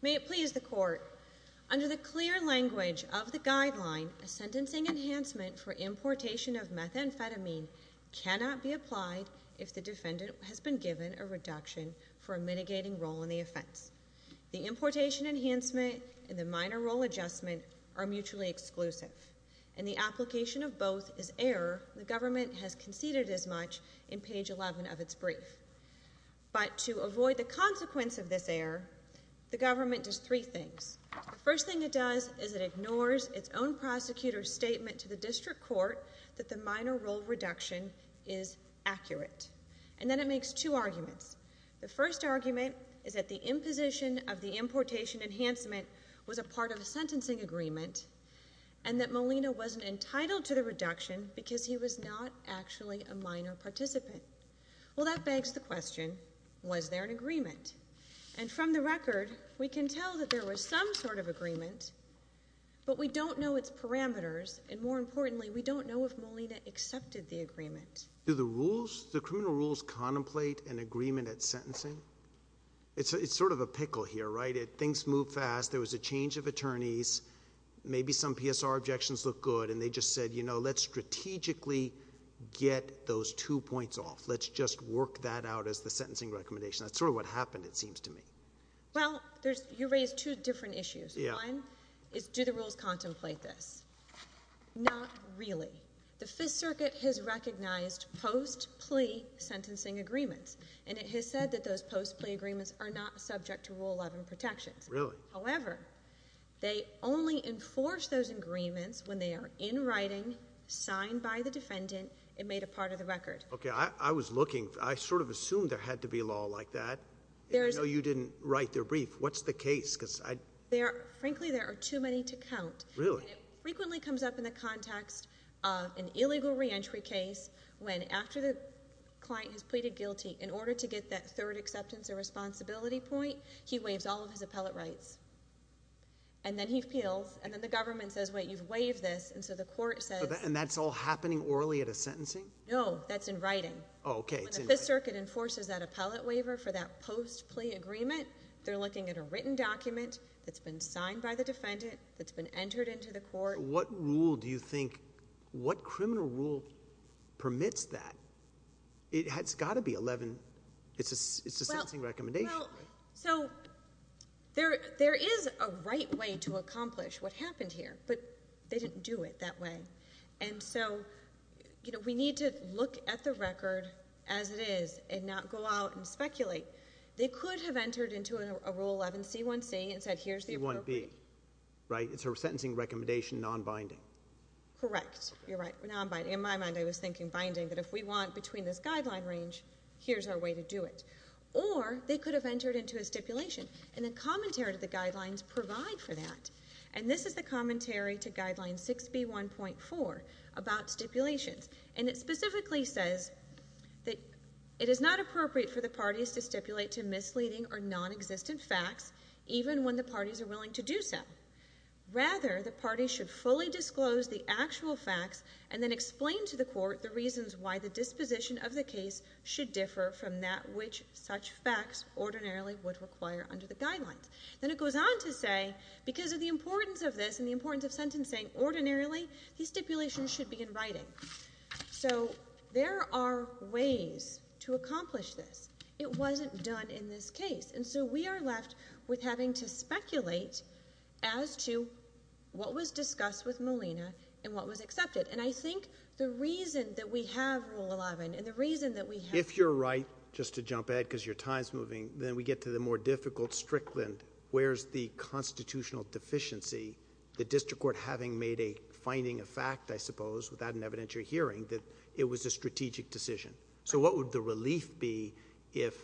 May it please the Court, under the clear language of the Guideline, a sentencing enhancement for importation of methamphetamine cannot be applied if the defendant has been given a reduction for a mitigating role in the offense. The importation enhancement and the minor role adjustment are mutually exclusive, and the application of both is error the government has conceded as much in page 11 of its brief. But to avoid the consequence of this error, the government does three things. The first thing it does is it ignores its own prosecutor's statement to the district court that the minor role reduction is accurate. And then it makes two arguments. The first argument is that the imposition of the importation enhancement was a part of a sentencing agreement, and that Molina wasn't entitled to the reduction because he was not actually a minor participant. Well, that begs the question, was there an agreement? And from the record, we can tell that there was some sort of agreement, but we don't know its parameters. And more importantly, we don't know if Molina accepted the agreement. Do the rules, the criminal rules contemplate an agreement at sentencing? It's sort of a pickle here, right? Things move fast. There was a change of attorneys. Maybe some PSR objections look good, and they just said, you know, let's strategically get those two points off. Let's just work that out as the sentencing recommendation. That's sort of what happened, it seems to me. Well, you raised two different issues. One is do the rules contemplate this? Not really. The Fifth Circuit has recognized post-plea sentencing agreements, and it has said that those post-plea agreements are not subject to Rule 11 protections. Really? However, they only enforce those agreements when they are in writing, signed by the defendant, and made a part of the record. Okay. I was looking. I sort of assumed there had to be law like that. I know you didn't write their brief. What's the case? Frankly, there are too many to count. Really? And it frequently comes up in the context of an illegal reentry case when after the client has pleaded guilty, in order to get that third acceptance or responsibility point, he waives all of his appellate rights. And then he appeals, and then the government says, wait, you've waived this, and so the court says — And that's all happening orally at a sentencing? No, that's in writing. Oh, okay. It's in writing. When the Fifth Circuit enforces that appellate waiver for that post-plea agreement, they're looking at a written document that's been signed by the defendant, that's been entered into the court. What rule do you think — what criminal rule permits that? It's got to be 11. It's a sentencing recommendation. Well, so there is a right way to accomplish what happened here, but they didn't do it that way. And so, you know, we need to look at the record as it is and not go out and speculate. They could have entered into a Rule 11C1C and said, here's the appropriate — C1B, right? It's a sentencing recommendation non-binding. Correct. You're right. Non-binding. In my mind, I was thinking binding, that if we want between this guideline range, here's our way to do it. Or they could have entered into a stipulation. And the commentary to the guidelines provide for that. And this is the commentary to Guideline 6B1.4 about stipulations. And it specifically says that it is not appropriate for the parties to stipulate to misleading or non-existent facts, even when the parties are willing to do so. Rather, the parties should fully disclose the actual facts and then explain to the court the reasons why the disposition of the case should differ from that which such facts ordinarily would require under the guidelines. Then it goes on to say, because of the importance of this and the importance of sentencing ordinarily, these stipulations should be in writing. So there are ways to accomplish this. It wasn't done in this case. And so we are left with having to speculate as to what was discussed with Molina and what was accepted. And I think the reason that we have Rule 11 and the reason that we have — If you're right, just to jump ahead because your time is moving, then we get to the more difficult strickland. Where is the constitutional deficiency, the district court having made a finding of fact, I suppose, without an evidentiary hearing, that it was a strategic decision? So what would the relief be if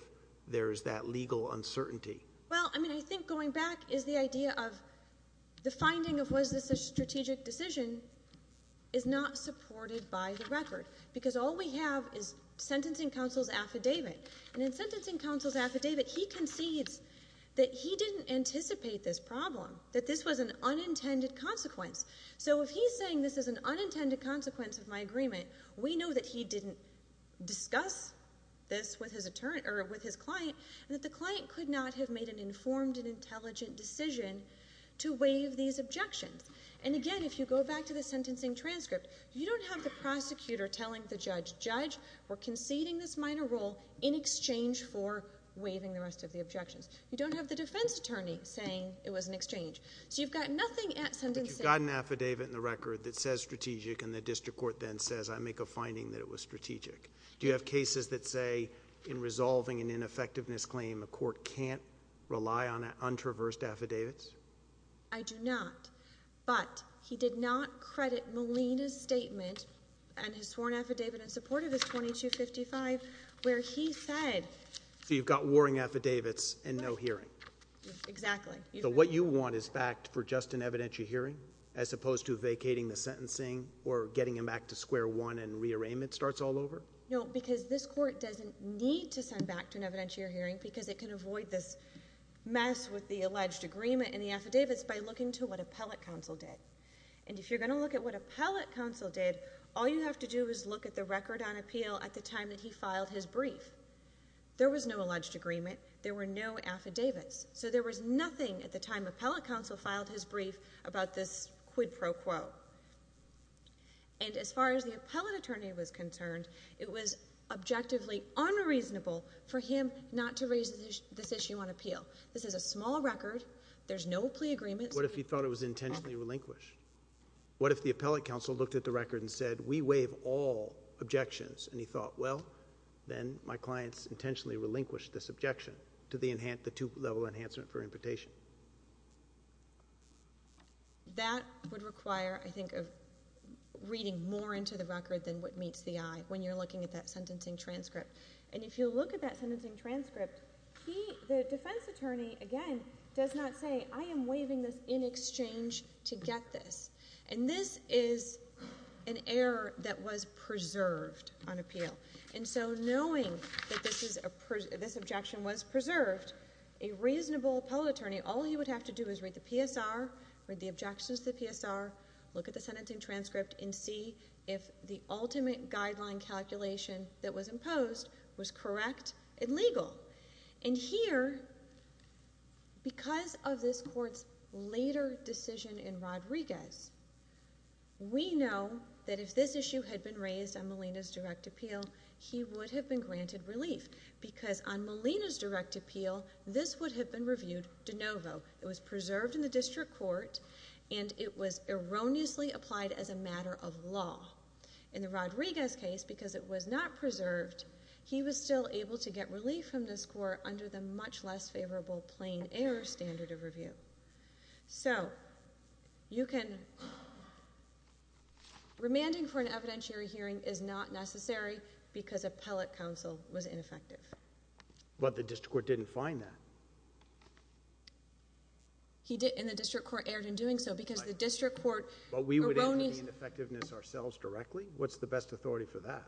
there is that legal uncertainty? Well, I mean, I think going back is the idea of the finding of was this a strategic decision is not supported by the record. Because all we have is sentencing counsel's affidavit. And in sentencing counsel's affidavit, he concedes that he didn't anticipate this problem, that this was an unintended consequence. So if he's saying this is an unintended consequence of my agreement, we know that he didn't discuss this with his client and that the client could not have made an informed and intelligent decision to waive these objections. And again, if you go back to the sentencing transcript, you don't have the prosecutor telling the judge, Judge, we're conceding this minor rule in exchange for waiving the rest of the objections. You don't have the defense attorney saying it was an exchange. So you've got nothing at sentencing— But you've got an affidavit in the record that says strategic and the district court then says, I make a finding that it was strategic. Do you have cases that say in resolving an ineffectiveness claim, a court can't rely on untraversed affidavits? I do not. But he did not credit Molina's statement and his sworn affidavit in support of his 2255 where he said— So you've got warring affidavits and no hearing. Exactly. So what you want is fact for just an evidentiary hearing as opposed to vacating the sentencing or getting him back to square one and rearrangement starts all over? No, because this court doesn't need to send back to an evidentiary hearing because it can avoid this mess with the alleged agreement and the affidavits by looking to what appellate counsel did. And if you're going to look at what appellate counsel did, all you have to do is look at the record on appeal at the time that he filed his brief. There was no alleged agreement. There were no affidavits. So there was nothing at the time appellate counsel filed his brief about this quid pro quo. And as far as the appellate attorney was concerned, it was objectively unreasonable for him not to raise this issue on appeal. This is a small record. There's no plea agreement. What if he thought it was intentionally relinquished? What if the appellate counsel looked at the record and said, we waive all objections? And he thought, well, then my clients intentionally relinquished this objection to the two-level enhancement for imputation. That would require, I think, reading more into the record than what meets the eye when you're looking at that sentencing transcript. And if you look at that sentencing transcript, the defense attorney, again, does not say, I am waiving this in exchange to get this. And this is an error that was preserved on appeal. And so knowing that this objection was preserved, a reasonable appellate attorney, all he would have to do is read the PSR, read the objections to the PSR, look at the sentencing transcript, and see if the ultimate guideline calculation that was imposed was correct and legal. And here, because of this court's later decision in Rodriguez, we know that if this issue had been raised on Molina's direct appeal, he would have been granted relief, because on Molina's direct appeal, this would have been reviewed de novo. It was preserved in the district court, and it was erroneously applied as a matter of law. In the Rodriguez case, because it was not preserved, he was still able to get relief from this court under the much less favorable plain error standard of review. So, you can... remanding for an evidentiary hearing is not necessary, because appellate counsel was ineffective. But the district court didn't find that. And the district court erred in doing so, because the district court erroneously... But we would have gained effectiveness ourselves directly? What's the best authority for that?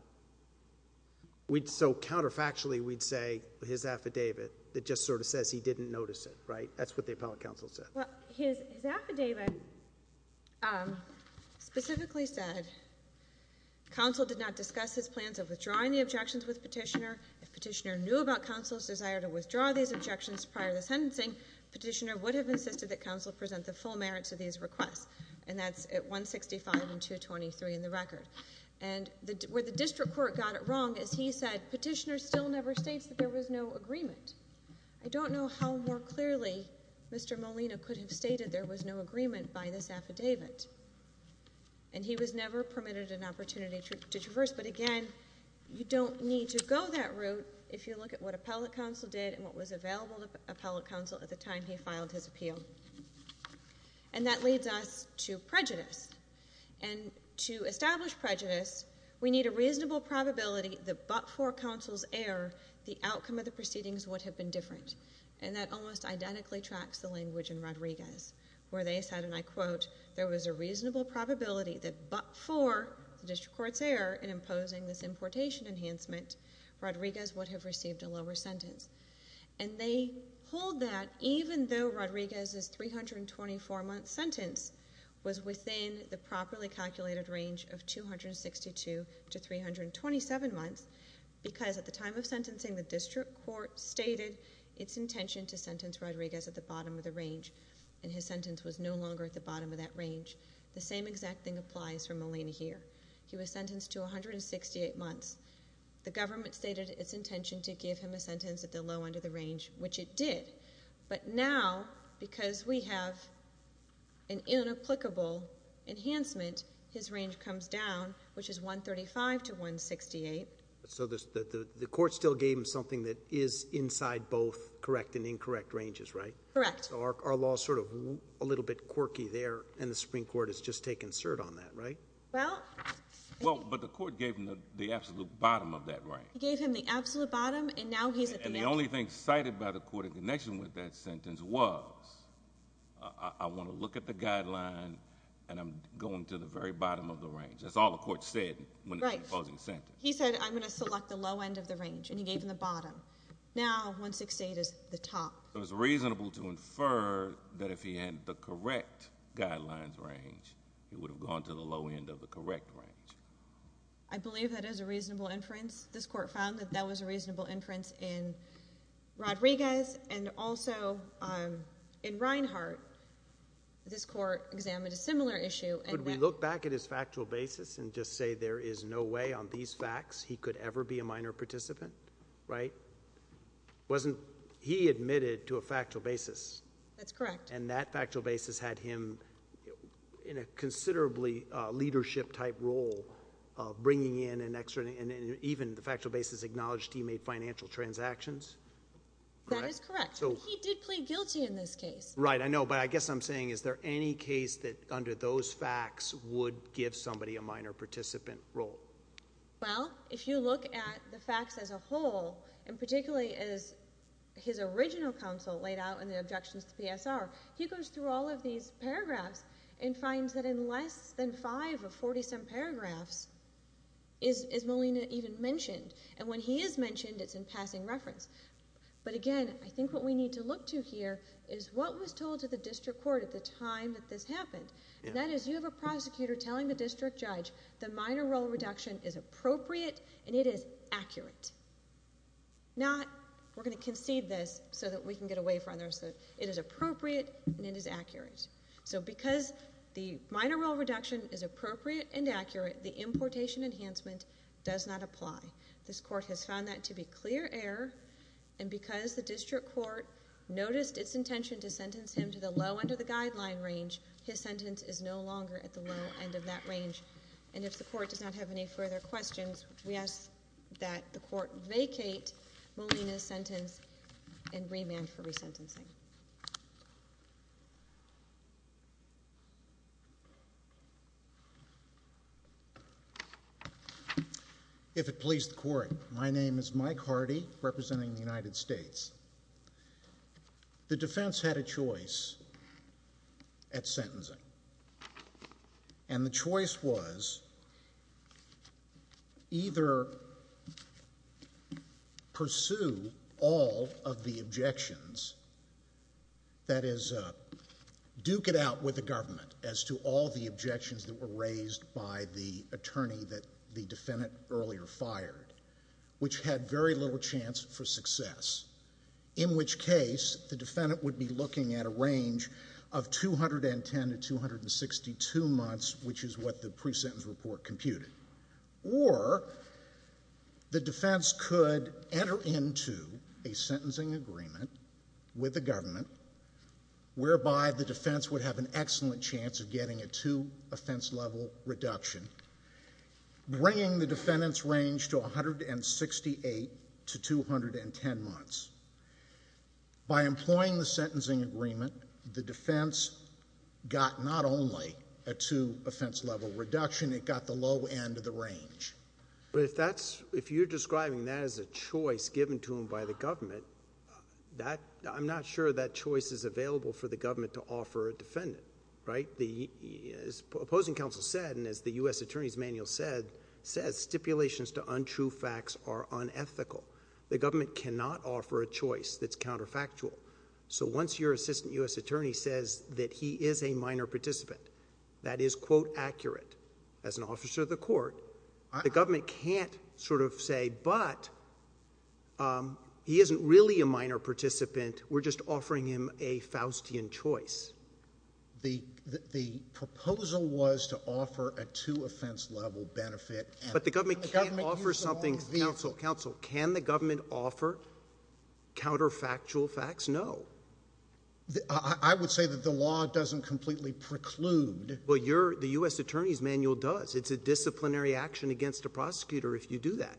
So, counterfactually, we'd say his affidavit that just sort of says he didn't notice it, right? That's what the appellate counsel said. Well, his affidavit specifically said, counsel did not discuss his plans of withdrawing the objections with Petitioner. If Petitioner knew about counsel's desire to withdraw these objections prior to the sentencing, Petitioner would have insisted that counsel present the full merits of these requests. And that's at 165 and 223 in the record. And, where the district court got it wrong, is he said, Petitioner still never states that there was no agreement. I don't know how more clearly Mr. Molina could have stated there was no agreement by this affidavit. And, he was never permitted an opportunity to traverse. But again, you don't need to go that route, if you look at what appellate counsel did and what was available to appellate counsel at the time he filed his appeal. And, that leads us to prejudice. And, to establish prejudice, we need a reasonable probability that but for counsel's error, the outcome of the proceedings would have been different. And, that almost identically tracks the language in Rodriguez, where they said, and I quote, there was a reasonable probability that but for the district court's error in imposing this importation enhancement, Rodriguez would have received a lower sentence. And, they hold that even though Rodriguez's 324 month sentence was within the properly calculated range of 262 to 327 months. Because, at the time of sentencing, the district court stated its intention to sentence Rodriguez at the bottom of the range. And, his sentence was no longer at the bottom of that range. The same exact thing applies for Molina here. He was sentenced to 168 months. The government stated its intention to give him a sentence at the low end of the range, which it did. But, now, because we have an inapplicable enhancement, his range comes down, which is 135 to 168. So, the court still gave him something that is inside both correct and incorrect ranges, right? Correct. So, our law is sort of a little bit quirky there, and the Supreme Court has just taken cert on that, right? Well. Well, but the court gave him the absolute bottom of that range. It gave him the absolute bottom, and now he's at the end. And, the only thing cited by the court in connection with that sentence was, I want to look at the guideline, and I'm going to the very bottom of the range. That's all the court said when imposing the sentence. Right. He said, I'm going to select the low end of the range, and he gave him the bottom. Now, 168 is the top. So, it's reasonable to infer that if he had the correct guidelines range, he would have gone to the low end of the correct range. I believe that is a reasonable inference. This court found that that was a reasonable inference in Rodriguez, and also in Reinhart. This court examined a similar issue. Could we look back at his factual basis and just say there is no way on these facts he could ever be a minor participant, right? He admitted to a factual basis. That's correct. And, that factual basis had him in a considerably leadership-type role of bringing in and even the factual basis acknowledged he made financial transactions. That is correct. He did plead guilty in this case. Right. I know, but I guess I'm saying, is there any case that under those facts would give somebody a minor participant role? Well, if you look at the facts as a whole, and particularly as his original counsel laid out in the objections to PSR, he goes through all of these paragraphs and finds that in less than five of 40-some paragraphs is Molina even mentioned. And, when he is mentioned, it's in passing reference. But, again, I think what we need to look to here is what was told to the district court at the time that this happened. And, that is you have a prosecutor telling the district judge the minor role reduction is appropriate and it is accurate. Not, we're going to concede this so that we can get away from this. It is appropriate and it is accurate. So, because the minor role reduction is appropriate and accurate, the importation enhancement does not apply. This court has found that to be clear error. And, because the district court noticed its intention to sentence him to the low end of the guideline range, his sentence is no longer at the low end of that range. And, if the court does not have any further questions, we ask that the court vacate Molina's sentence and remand for resentencing. Thank you. If it please the court, my name is Mike Hardy, representing the United States. The defense had a choice at sentencing. And, the choice was either pursue all of the objections, that is duke it out with the government, as to all the objections that were raised by the attorney that the defendant earlier fired, which had very little chance for success. In which case, the defendant would be looking at a range of 210 to 262 months, which is what the pre-sentence report computed. Or, the defense could enter into a sentencing agreement with the government, whereby the defense would have an excellent chance of getting a two offense level reduction, bringing the defendant's range to 168 to 210 months. By employing the sentencing agreement, the defense got not only a two offense level reduction, it got the low end of the range. But, if you're describing that as a choice given to him by the government, I'm not sure that choice is available for the government to offer a defendant. Right? As opposing counsel said, and as the U.S. Attorney's Manual says, stipulations to untrue facts are unethical. The government cannot offer a choice that's counterfactual. So, once your assistant U.S. attorney says that he is a minor participant, that is, quote, accurate, as an officer of the court, the government can't sort of say, but, he isn't really a minor participant, we're just offering him a Faustian choice. The proposal was to offer a two offense level benefit. But, the government can't offer something. Counsel, counsel, can the government offer counterfactual facts? No. I would say that the law doesn't completely preclude. Well, the U.S. Attorney's Manual does. It's a disciplinary action against a prosecutor if you do that.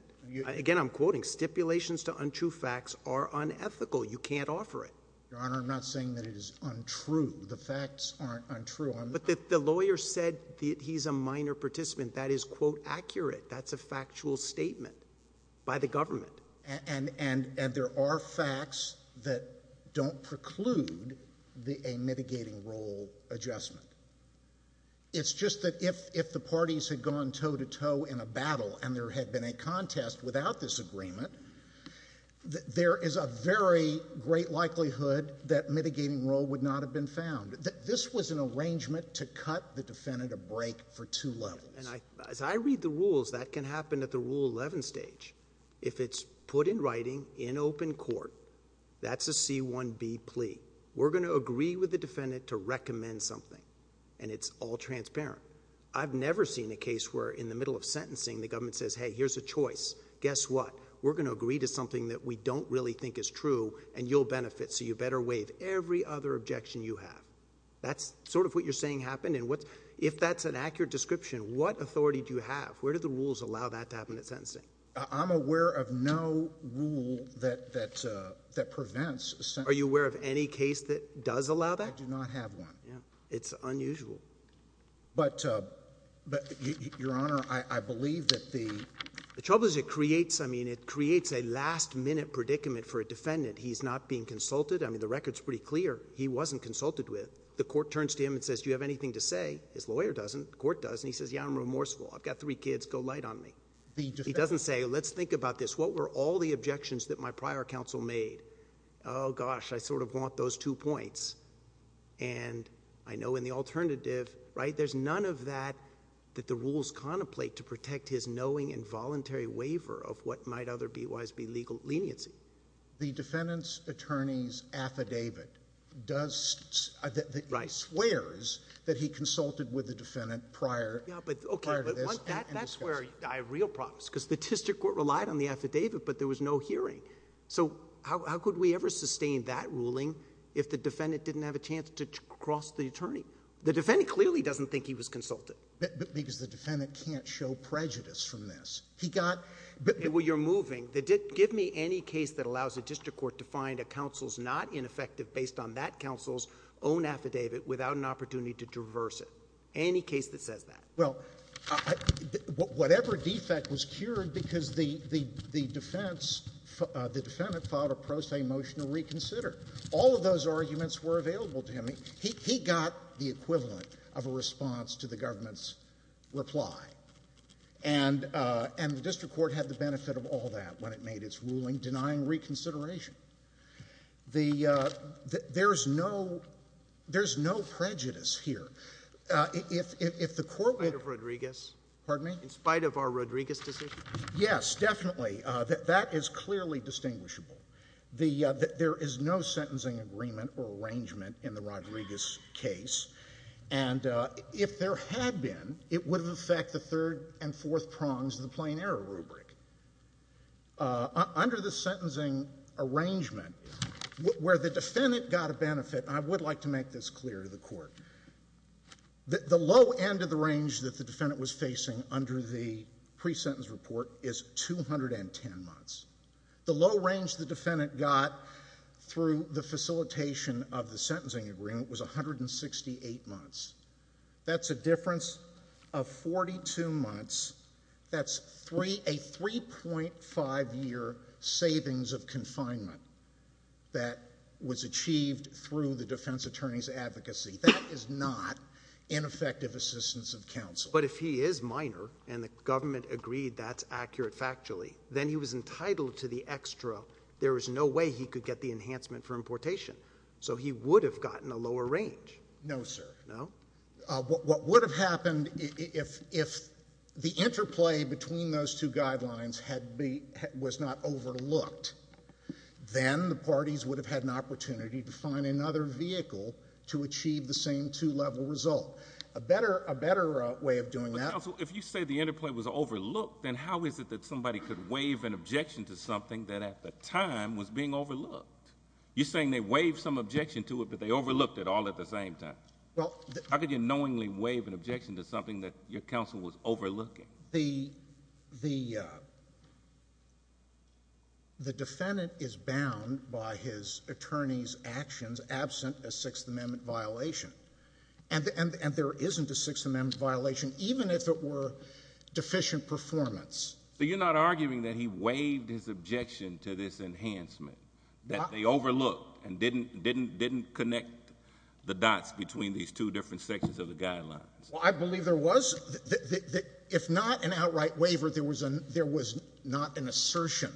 Again, I'm quoting, stipulations to untrue facts are unethical. You can't offer it. Your Honor, I'm not saying that it is untrue. The facts aren't untrue. But, the lawyer said that he's a minor participant. That is, quote, accurate. That's a factual statement by the government. And, there are facts that don't preclude a mitigating role adjustment. It's just that if the parties had gone toe-to-toe in a battle and there had been a contest without this agreement, there is a very great likelihood that mitigating role would not have been found. This was an arrangement to cut the defendant a break for two levels. And, as I read the rules, that can happen at the Rule 11 stage. If it's put in writing in open court, that's a C-1B plea. We're going to agree with the defendant to recommend something. And, it's all transparent. I've never seen a case where in the middle of sentencing, the government says, hey, here's a choice. Guess what? We're going to agree to something that we don't really think is true, and you'll benefit, so you better waive every other objection you have. That's sort of what you're saying happened. If that's an accurate description, what authority do you have? Where do the rules allow that to happen at sentencing? I'm aware of no rule that prevents sentencing. Are you aware of any case that does allow that? I do not have one. It's unusual. But, Your Honor, I believe that the... The trouble is it creates a last-minute predicament for a defendant. He's not being consulted. I mean, the record's pretty clear. He wasn't consulted with. The court turns to him and says, do you have anything to say? His lawyer doesn't. The court doesn't. He says, yeah, I'm remorseful. I've got three kids. Go light on me. He doesn't say, let's think about this. What were all the objections that my prior counsel made? Oh, gosh, I sort of want those two points. And I know in the alternative, right, there's none of that, that the rules contemplate to protect his knowing and voluntary waiver of what might otherwise be legal leniency. The defendant's attorney's affidavit does... Right.... swears that he consulted with the defendant prior to this. Yeah, but that's where I have real problems, because the district court relied on the affidavit, but there was no hearing. So how could we ever sustain that ruling if the defendant didn't have a chance to cross the attorney? The defendant clearly doesn't think he was consulted. Because the defendant can't show prejudice from this. He got... Well, you're moving. Give me any case that allows a district court to find a counsel's not ineffective based on that counsel's own affidavit without an opportunity to traverse it. Any case that says that. Well, whatever defect was cured because the defense, the defendant filed a pro se motion to reconsider. All of those arguments were available to him. He got the equivalent of a response to the government's reply. And the district court had the benefit of all that when it made its ruling denying reconsideration. There's no prejudice here. In spite of Rodriguez? Pardon me? In spite of our Rodriguez decision? Yes, definitely. That is clearly distinguishable. There is no sentencing agreement or arrangement in the Rodriguez case. And if there had been, it would have affected the third and fourth prongs of the plain error rubric. Under the sentencing arrangement, where the defendant got a benefit, and I would like to make this clear to the court, the low end of the range that the defendant was facing under the pre-sentence report is 210 months. The low range the defendant got through the facilitation of the sentencing agreement was 168 months. That's a difference of 42 months. That's a 3.5-year savings of confinement that was achieved through the defense attorney's advocacy. That is not ineffective assistance of counsel. But if he is minor and the government agreed that's accurate factually, then he was entitled to the extra. There is no way he could get the enhancement for importation. So he would have gotten a lower range. No, sir. No? What would have happened if the interplay between those two guidelines was not overlooked? Then the parties would have had an opportunity to find another vehicle to achieve the same two-level result. A better way of doing that. Counsel, if you say the interplay was overlooked, then how is it that somebody could waive an objection to something that at the time was being overlooked? You're saying they waived some objection to it, but they overlooked it all at the same time. How could you knowingly waive an objection to something that your counsel was overlooking? The defendant is bound by his attorney's actions absent a Sixth Amendment violation. And there isn't a Sixth Amendment violation, even if it were deficient performance. So you're not arguing that he waived his objection to this enhancement, that they overlooked and didn't connect the dots between these two different sections of the guidelines? Well, I believe there was. If not an outright waiver, there was not an assertion.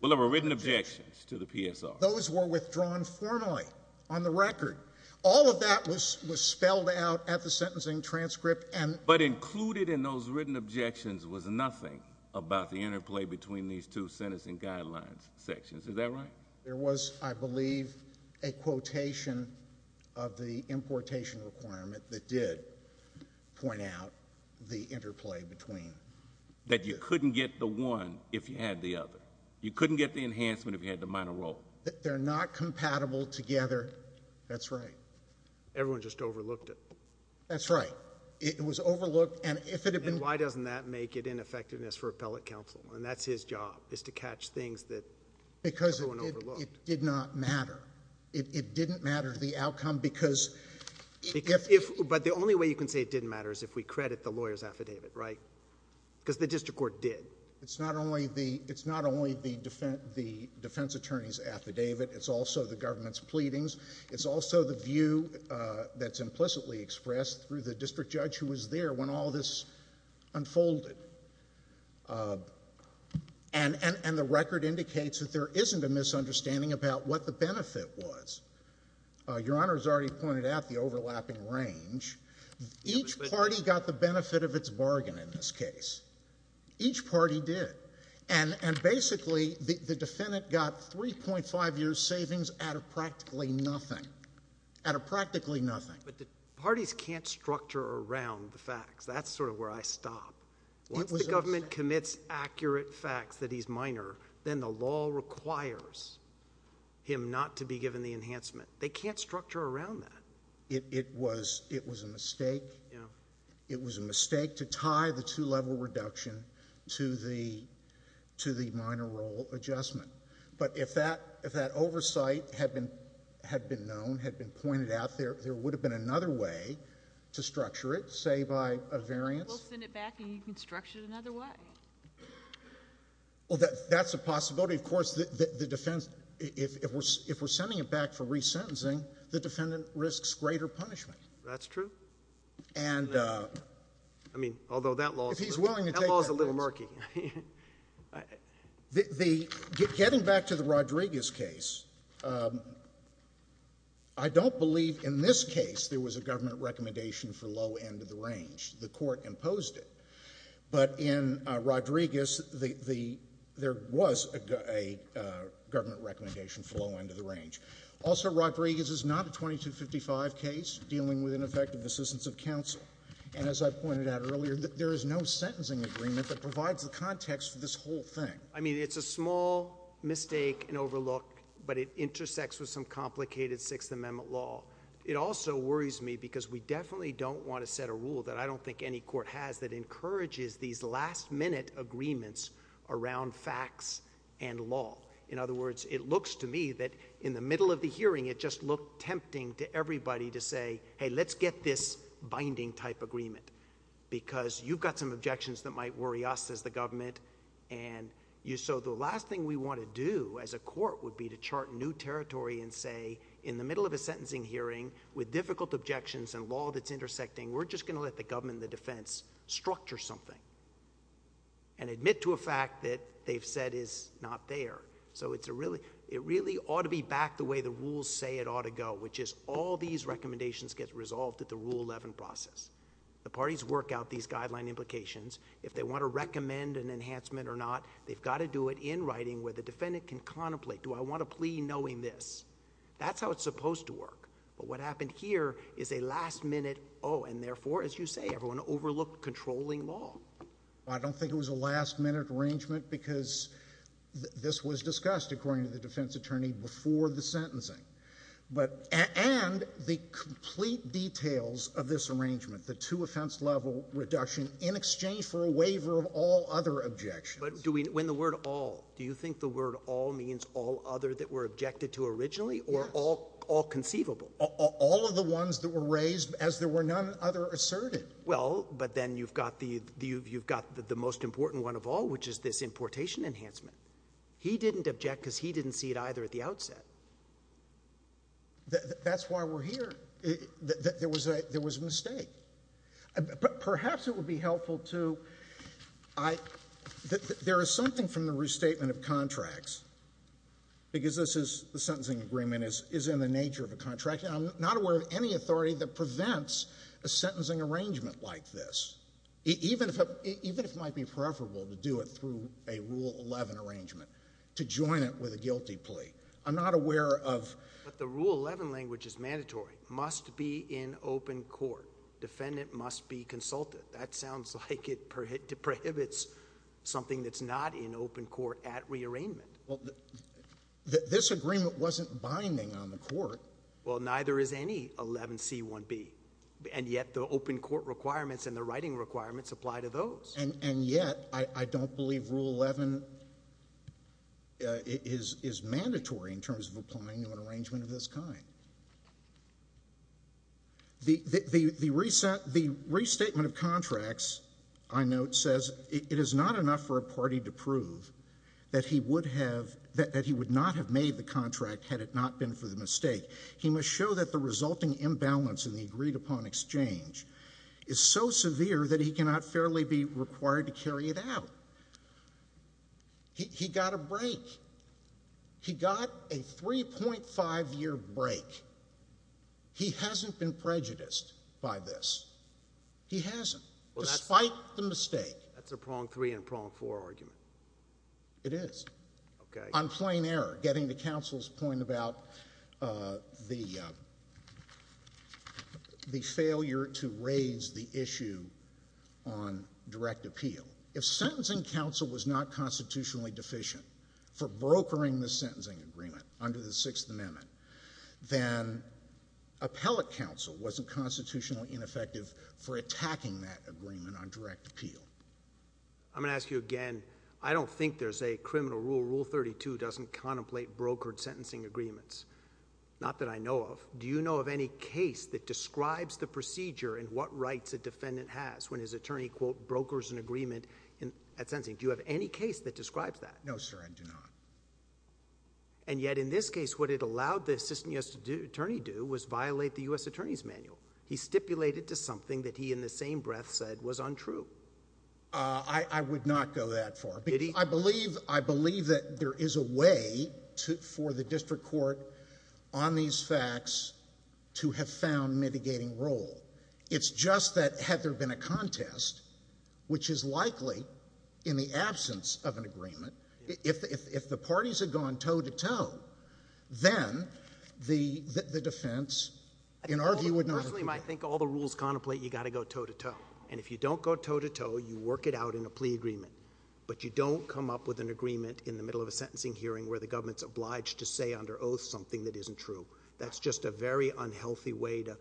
Well, there were written objections to the PSR. Those were withdrawn formally on the record. All of that was spelled out at the sentencing transcript. But included in those written objections was nothing about the interplay between these two sentencing guidelines sections. Is that right? There was, I believe, a quotation of the importation requirement that did. Point out the interplay between. That you couldn't get the one if you had the other. You couldn't get the enhancement if you had the minor role. They're not compatible together. That's right. Everyone just overlooked it. That's right. It was overlooked. And if it had been. Why doesn't that make it ineffectiveness for appellate counsel? And that's his job is to catch things that. Because it did not matter. It didn't matter the outcome because. But the only way you can say it didn't matter is if we credit the lawyer's affidavit, right? Because the district court did. It's not only the defense attorney's affidavit. It's also the government's pleadings. It's also the view that's implicitly expressed through the district judge who was there when all this unfolded. And the record indicates that there isn't a misunderstanding about what the benefit was. Your Honor has already pointed out the overlapping range. Each party got the benefit of its bargain in this case. Each party did. And basically the defendant got 3.5 years savings out of practically nothing. Out of practically nothing. But the parties can't structure around the facts. That's sort of where I stop. Once the government commits accurate facts that he's minor, then the law requires him not to be given the enhancement. They can't structure around that. It was a mistake. It was a mistake to tie the two-level reduction to the minor role adjustment. But if that oversight had been known, had been pointed out, there would have been another way to structure it, say by a variance. We'll send it back and you can structure it another way. Well, that's a possibility. Of course, the defense, if we're sending it back for resentencing, the defendant risks greater punishment. That's true. I mean, although that law is a little murky. Getting back to the Rodriguez case, I don't believe in this case there was a government recommendation for low end of the range. The Court imposed it. But in Rodriguez, there was a government recommendation for low end of the range. Also, Rodriguez is not a 2255 case dealing with ineffective assistance of counsel. And as I pointed out earlier, there is no sentencing agreement that provides the context for this whole thing. I mean, it's a small mistake and overlook, but it intersects with some complicated Sixth Amendment law. It also worries me because we definitely don't want to set a rule that I don't think any court has that encourages these last minute agreements around facts and law. In other words, it looks to me that in the middle of the hearing, it just looked tempting to everybody to say, hey, let's get this binding type agreement because you've got some objections that might worry us as the government. And so the last thing we want to do as a court would be to chart new territory and say in the middle of a sentencing hearing with difficult objections and law that's intersecting, we're just going to let the government and the defense structure something and admit to a fact that they've said is not there. So it really ought to be back the way the rules say it ought to go, which is all these recommendations get resolved at the Rule 11 process. The parties work out these guideline implications. If they want to recommend an enhancement or not, they've got to do it in writing where the defendant can contemplate, do I want to plea knowing this? That's how it's supposed to work. But what happened here is a last minute, oh, and therefore, as you say, everyone overlooked controlling law. I don't think it was a last minute arrangement because this was discussed, according to the defense attorney, before the sentencing. And the complete details of this arrangement, the two offense level reduction in exchange for a waiver of all other objections. But when the word all, do you think the word all means all other that were objected to originally or all conceivable? All of the ones that were raised as there were none other asserted. Well, but then you've got the most important one of all, which is this importation enhancement. He didn't object because he didn't see it either at the outset. That's why we're here. There was a mistake. But perhaps it would be helpful to, there is something from the restatement of contracts, because this is the sentencing agreement is, is in the nature of a contract. I'm not aware of any authority that prevents a sentencing arrangement like this, even if, even if it might be preferable to do it through a rule 11 arrangement to join it with a guilty plea. I'm not aware of, but the rule 11 language is mandatory, must be in open court. Defendant must be consulted. That sounds like it prohibits something that's not in open court at the arraignment. Well, this agreement wasn't binding on the court. Well, neither is any 11 C one B and yet the open court requirements and the writing requirements apply to those. And, and yet I don't believe rule 11 is, is mandatory in terms of applying to an arrangement of this kind. The, the, the reset, the restatement of contracts I note says it is not enough for a party to prove that he would have, that he would not have made the contract had it not been for the mistake. He must show that the resulting imbalance in the agreed upon exchange is so severe that he cannot fairly be required to carry it out. He got a break. He got a 3.5 year break. He hasn't been prejudiced by this. He hasn't, despite the mistake. That's a prong three and prong four argument. It is. Okay. On plain error, getting the council's point about, uh, the, uh, the failure to raise the issue on direct appeal. If sentencing council was not constitutionally deficient for brokering the sentencing agreement under the sixth amendment, then appellate council wasn't constitutionally ineffective for attacking that agreement on direct appeal. I'm going to ask you again. I don't think there's a criminal rule. Rule 32 doesn't contemplate brokered sentencing agreements. Not that I know of. Do you know of any case that describes the procedure and what rights a defendant has when his attorney quote brokers an agreement at sentencing? Do you have any case that describes that? No, sir. I do not. And yet in this case, what it allowed the assistant U.S. attorney do was violate the U.S. attorney's manual. He stipulated to something that he in the same breath said was untrue. Uh, I would not go that far. I believe, I believe that there is a way to, for the district court on these facts to have found mitigating role. It's just that had there been a contest, which is likely in the absence of an agreement, if, if, if the parties had gone toe to toe, then the, the defense in our view would not. Personally, I think all the rules contemplate, you got to go toe to toe. And if you don't go toe to toe, you work it out in a plea agreement, but you don't come up with an agreement in the middle of a sentencing hearing where the government's obliged to say under oath, something that isn't true. That's just a very unhealthy way to,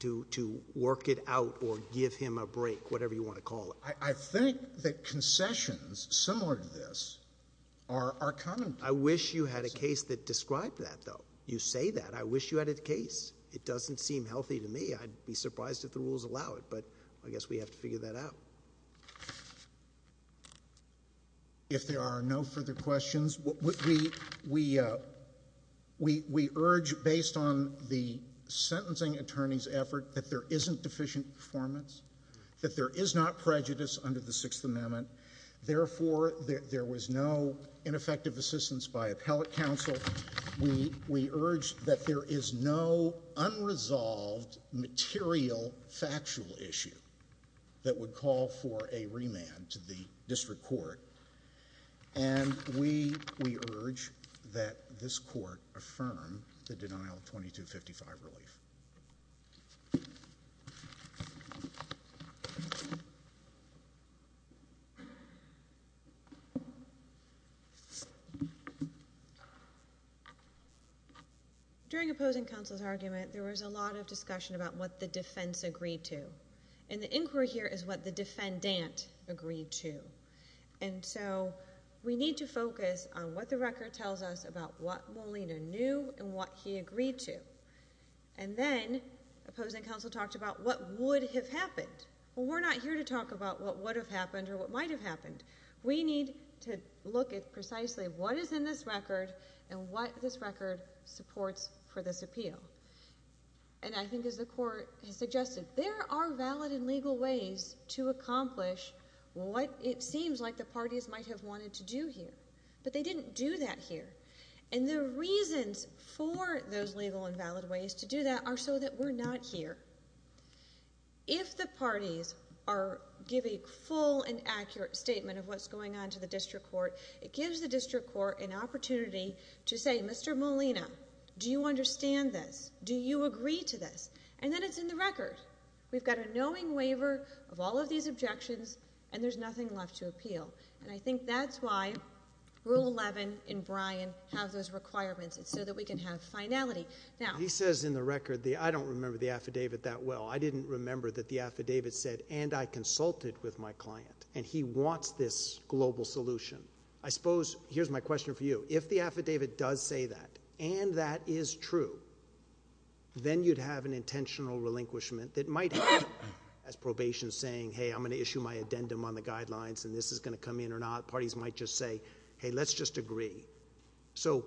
to, to work it out or give him a break, whatever you want to call it. I think that concessions similar to this are, are common. I wish you had a case that described that though. You say that I wish you had a case. It doesn't seem healthy to me. I'd be surprised if the rules allow it, but I guess we have to figure that out. If there are no further questions, we, we, we, we, we urge based on the sentencing attorney's effort, that there isn't deficient performance, that there is not prejudice under the sixth amendment. Therefore, there was no ineffective assistance by appellate counsel. We, we urge that there is no unresolved material, factual issue that would call for a remand to the district court. And we, we urge that this court affirm the denial of 2255 relief. During opposing counsel's argument, there was a lot of discussion about what the defense agreed to. And the inquiry here is what the defendant agreed to. And so we need to focus on what the record tells us about what Molina knew and what he agreed to. And then opposing counsel talked about what would have happened. Well, we're not here to talk about what would have happened or what might have happened. We need to look at precisely what is in this record and what this record supports for this appeal. And I think as the court has suggested, there are valid and legal ways to accomplish what it seems like the parties might have wanted to do here, but they didn't do that here. And the reasons for those legal and valid ways to do that are so that we're not here. If the parties are giving full and accurate statement of what's going on to the district court, it gives the district court an opportunity to say, Mr Molina, do you understand this? Do you agree to this? And then it's in the record. We've got a knowing waiver of all of these objections and there's nothing left to appeal. And I think that's why rule 11 in Bryan have those requirements. It's so that we can have finality. Now, he says in the record, the, I don't remember the affidavit that well, I didn't remember that the affidavit said, and I consulted with my client and he wants this global solution. I suppose, here's my question for you. If the affidavit does say that, and that is true, then you'd have an intentional relinquishment that might have as probation saying, Hey, I'm going to issue my addendum on the guidelines and this is going to come in or not. Parties might just say, Hey, let's just agree. So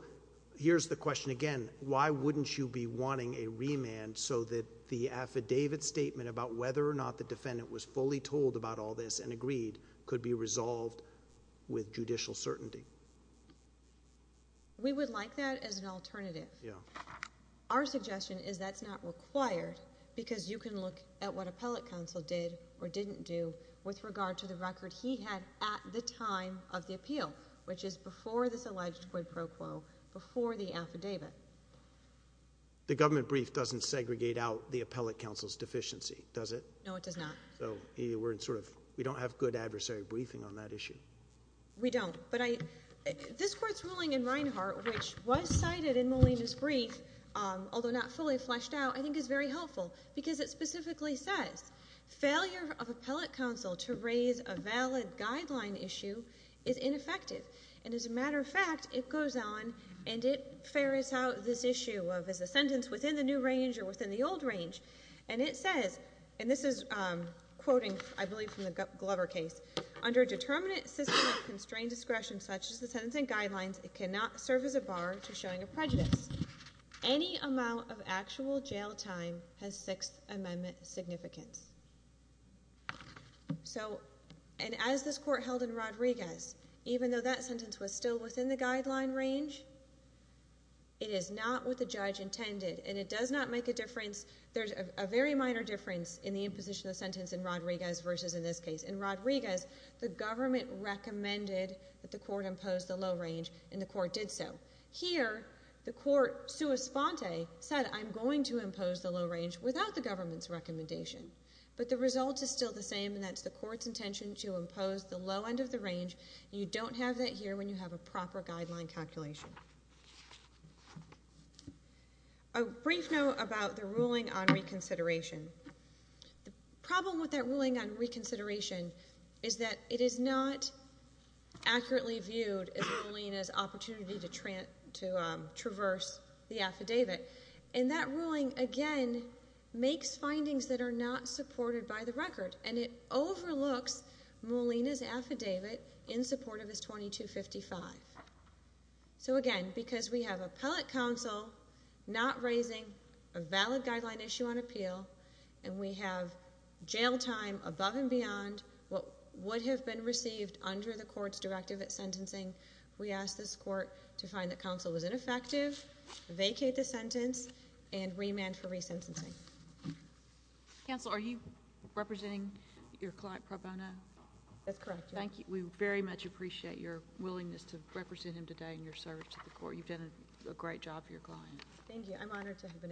here's the question again, why wouldn't you be wanting a remand so that the affidavit statement about whether or not the defendant was fully told about all this and agreed could be resolved with judicial certainty. We would like that as an alternative. Yeah. Our suggestion is that's not required because you can look at what appellate counsel did or didn't do with regard to the record he had at the time of the appeal, which is before this alleged quid pro quo before the affidavit. The government brief doesn't segregate out the appellate counsel's deficiency, does it? No, it does not. So we're in sort of, we don't have good adversary briefing on that issue. We don't, but I, this court's ruling in Reinhart, which was cited in Molina's brief, um, although not fully fleshed out, I think is very helpful because it specifically says failure of appellate counsel to raise a valid guideline issue is ineffective. And as a matter of fact, it goes on and it ferries out this issue of, as a sentence within the new range or within the old range. And it says, and this is, um, quoting, I believe from the Glover case under a determinant system of constrained discretion, such as the sentence and guidelines, it cannot serve as a bar to showing a prejudice. Any amount of actual jail time has sixth amendment significance. So, and as this court held in Rodriguez, even though that sentence was still within the guideline range, it is not what the judge intended and it does not make a difference. There's a very minor difference in the imposition of sentence in Rodriguez versus in this case. In Rodriguez, the government recommended that the court imposed the low range and the court did. So here the court sua sponte said, I'm going to impose the low range without the government's recommendation, but the result is still the same. And that's the court's intention to impose the low end of the range. You don't have that here when you have a proper guideline calculation, a brief note about the ruling on reconsideration. The problem with that ruling on reconsideration is that it is not accurately viewed as Molina's opportunity to trans to traverse the affidavit. And that ruling again makes findings that are not supported by the record and it overlooks Molina's affidavit in support of his 2255. So again, because we have appellate counsel not raising a valid guideline issue on Molina and we have jail time above and beyond what would have been received under the court's directive at sentencing, we asked this court to find that counsel was ineffective, vacate the sentence and remand for resentencing. Counsel, are you representing your client, Pro Bono? That's correct. Thank you. We very much appreciate your willingness to represent him today in your service to the court. You've done a great job for your client. Thank you. I'm honored to have been asked. Okay.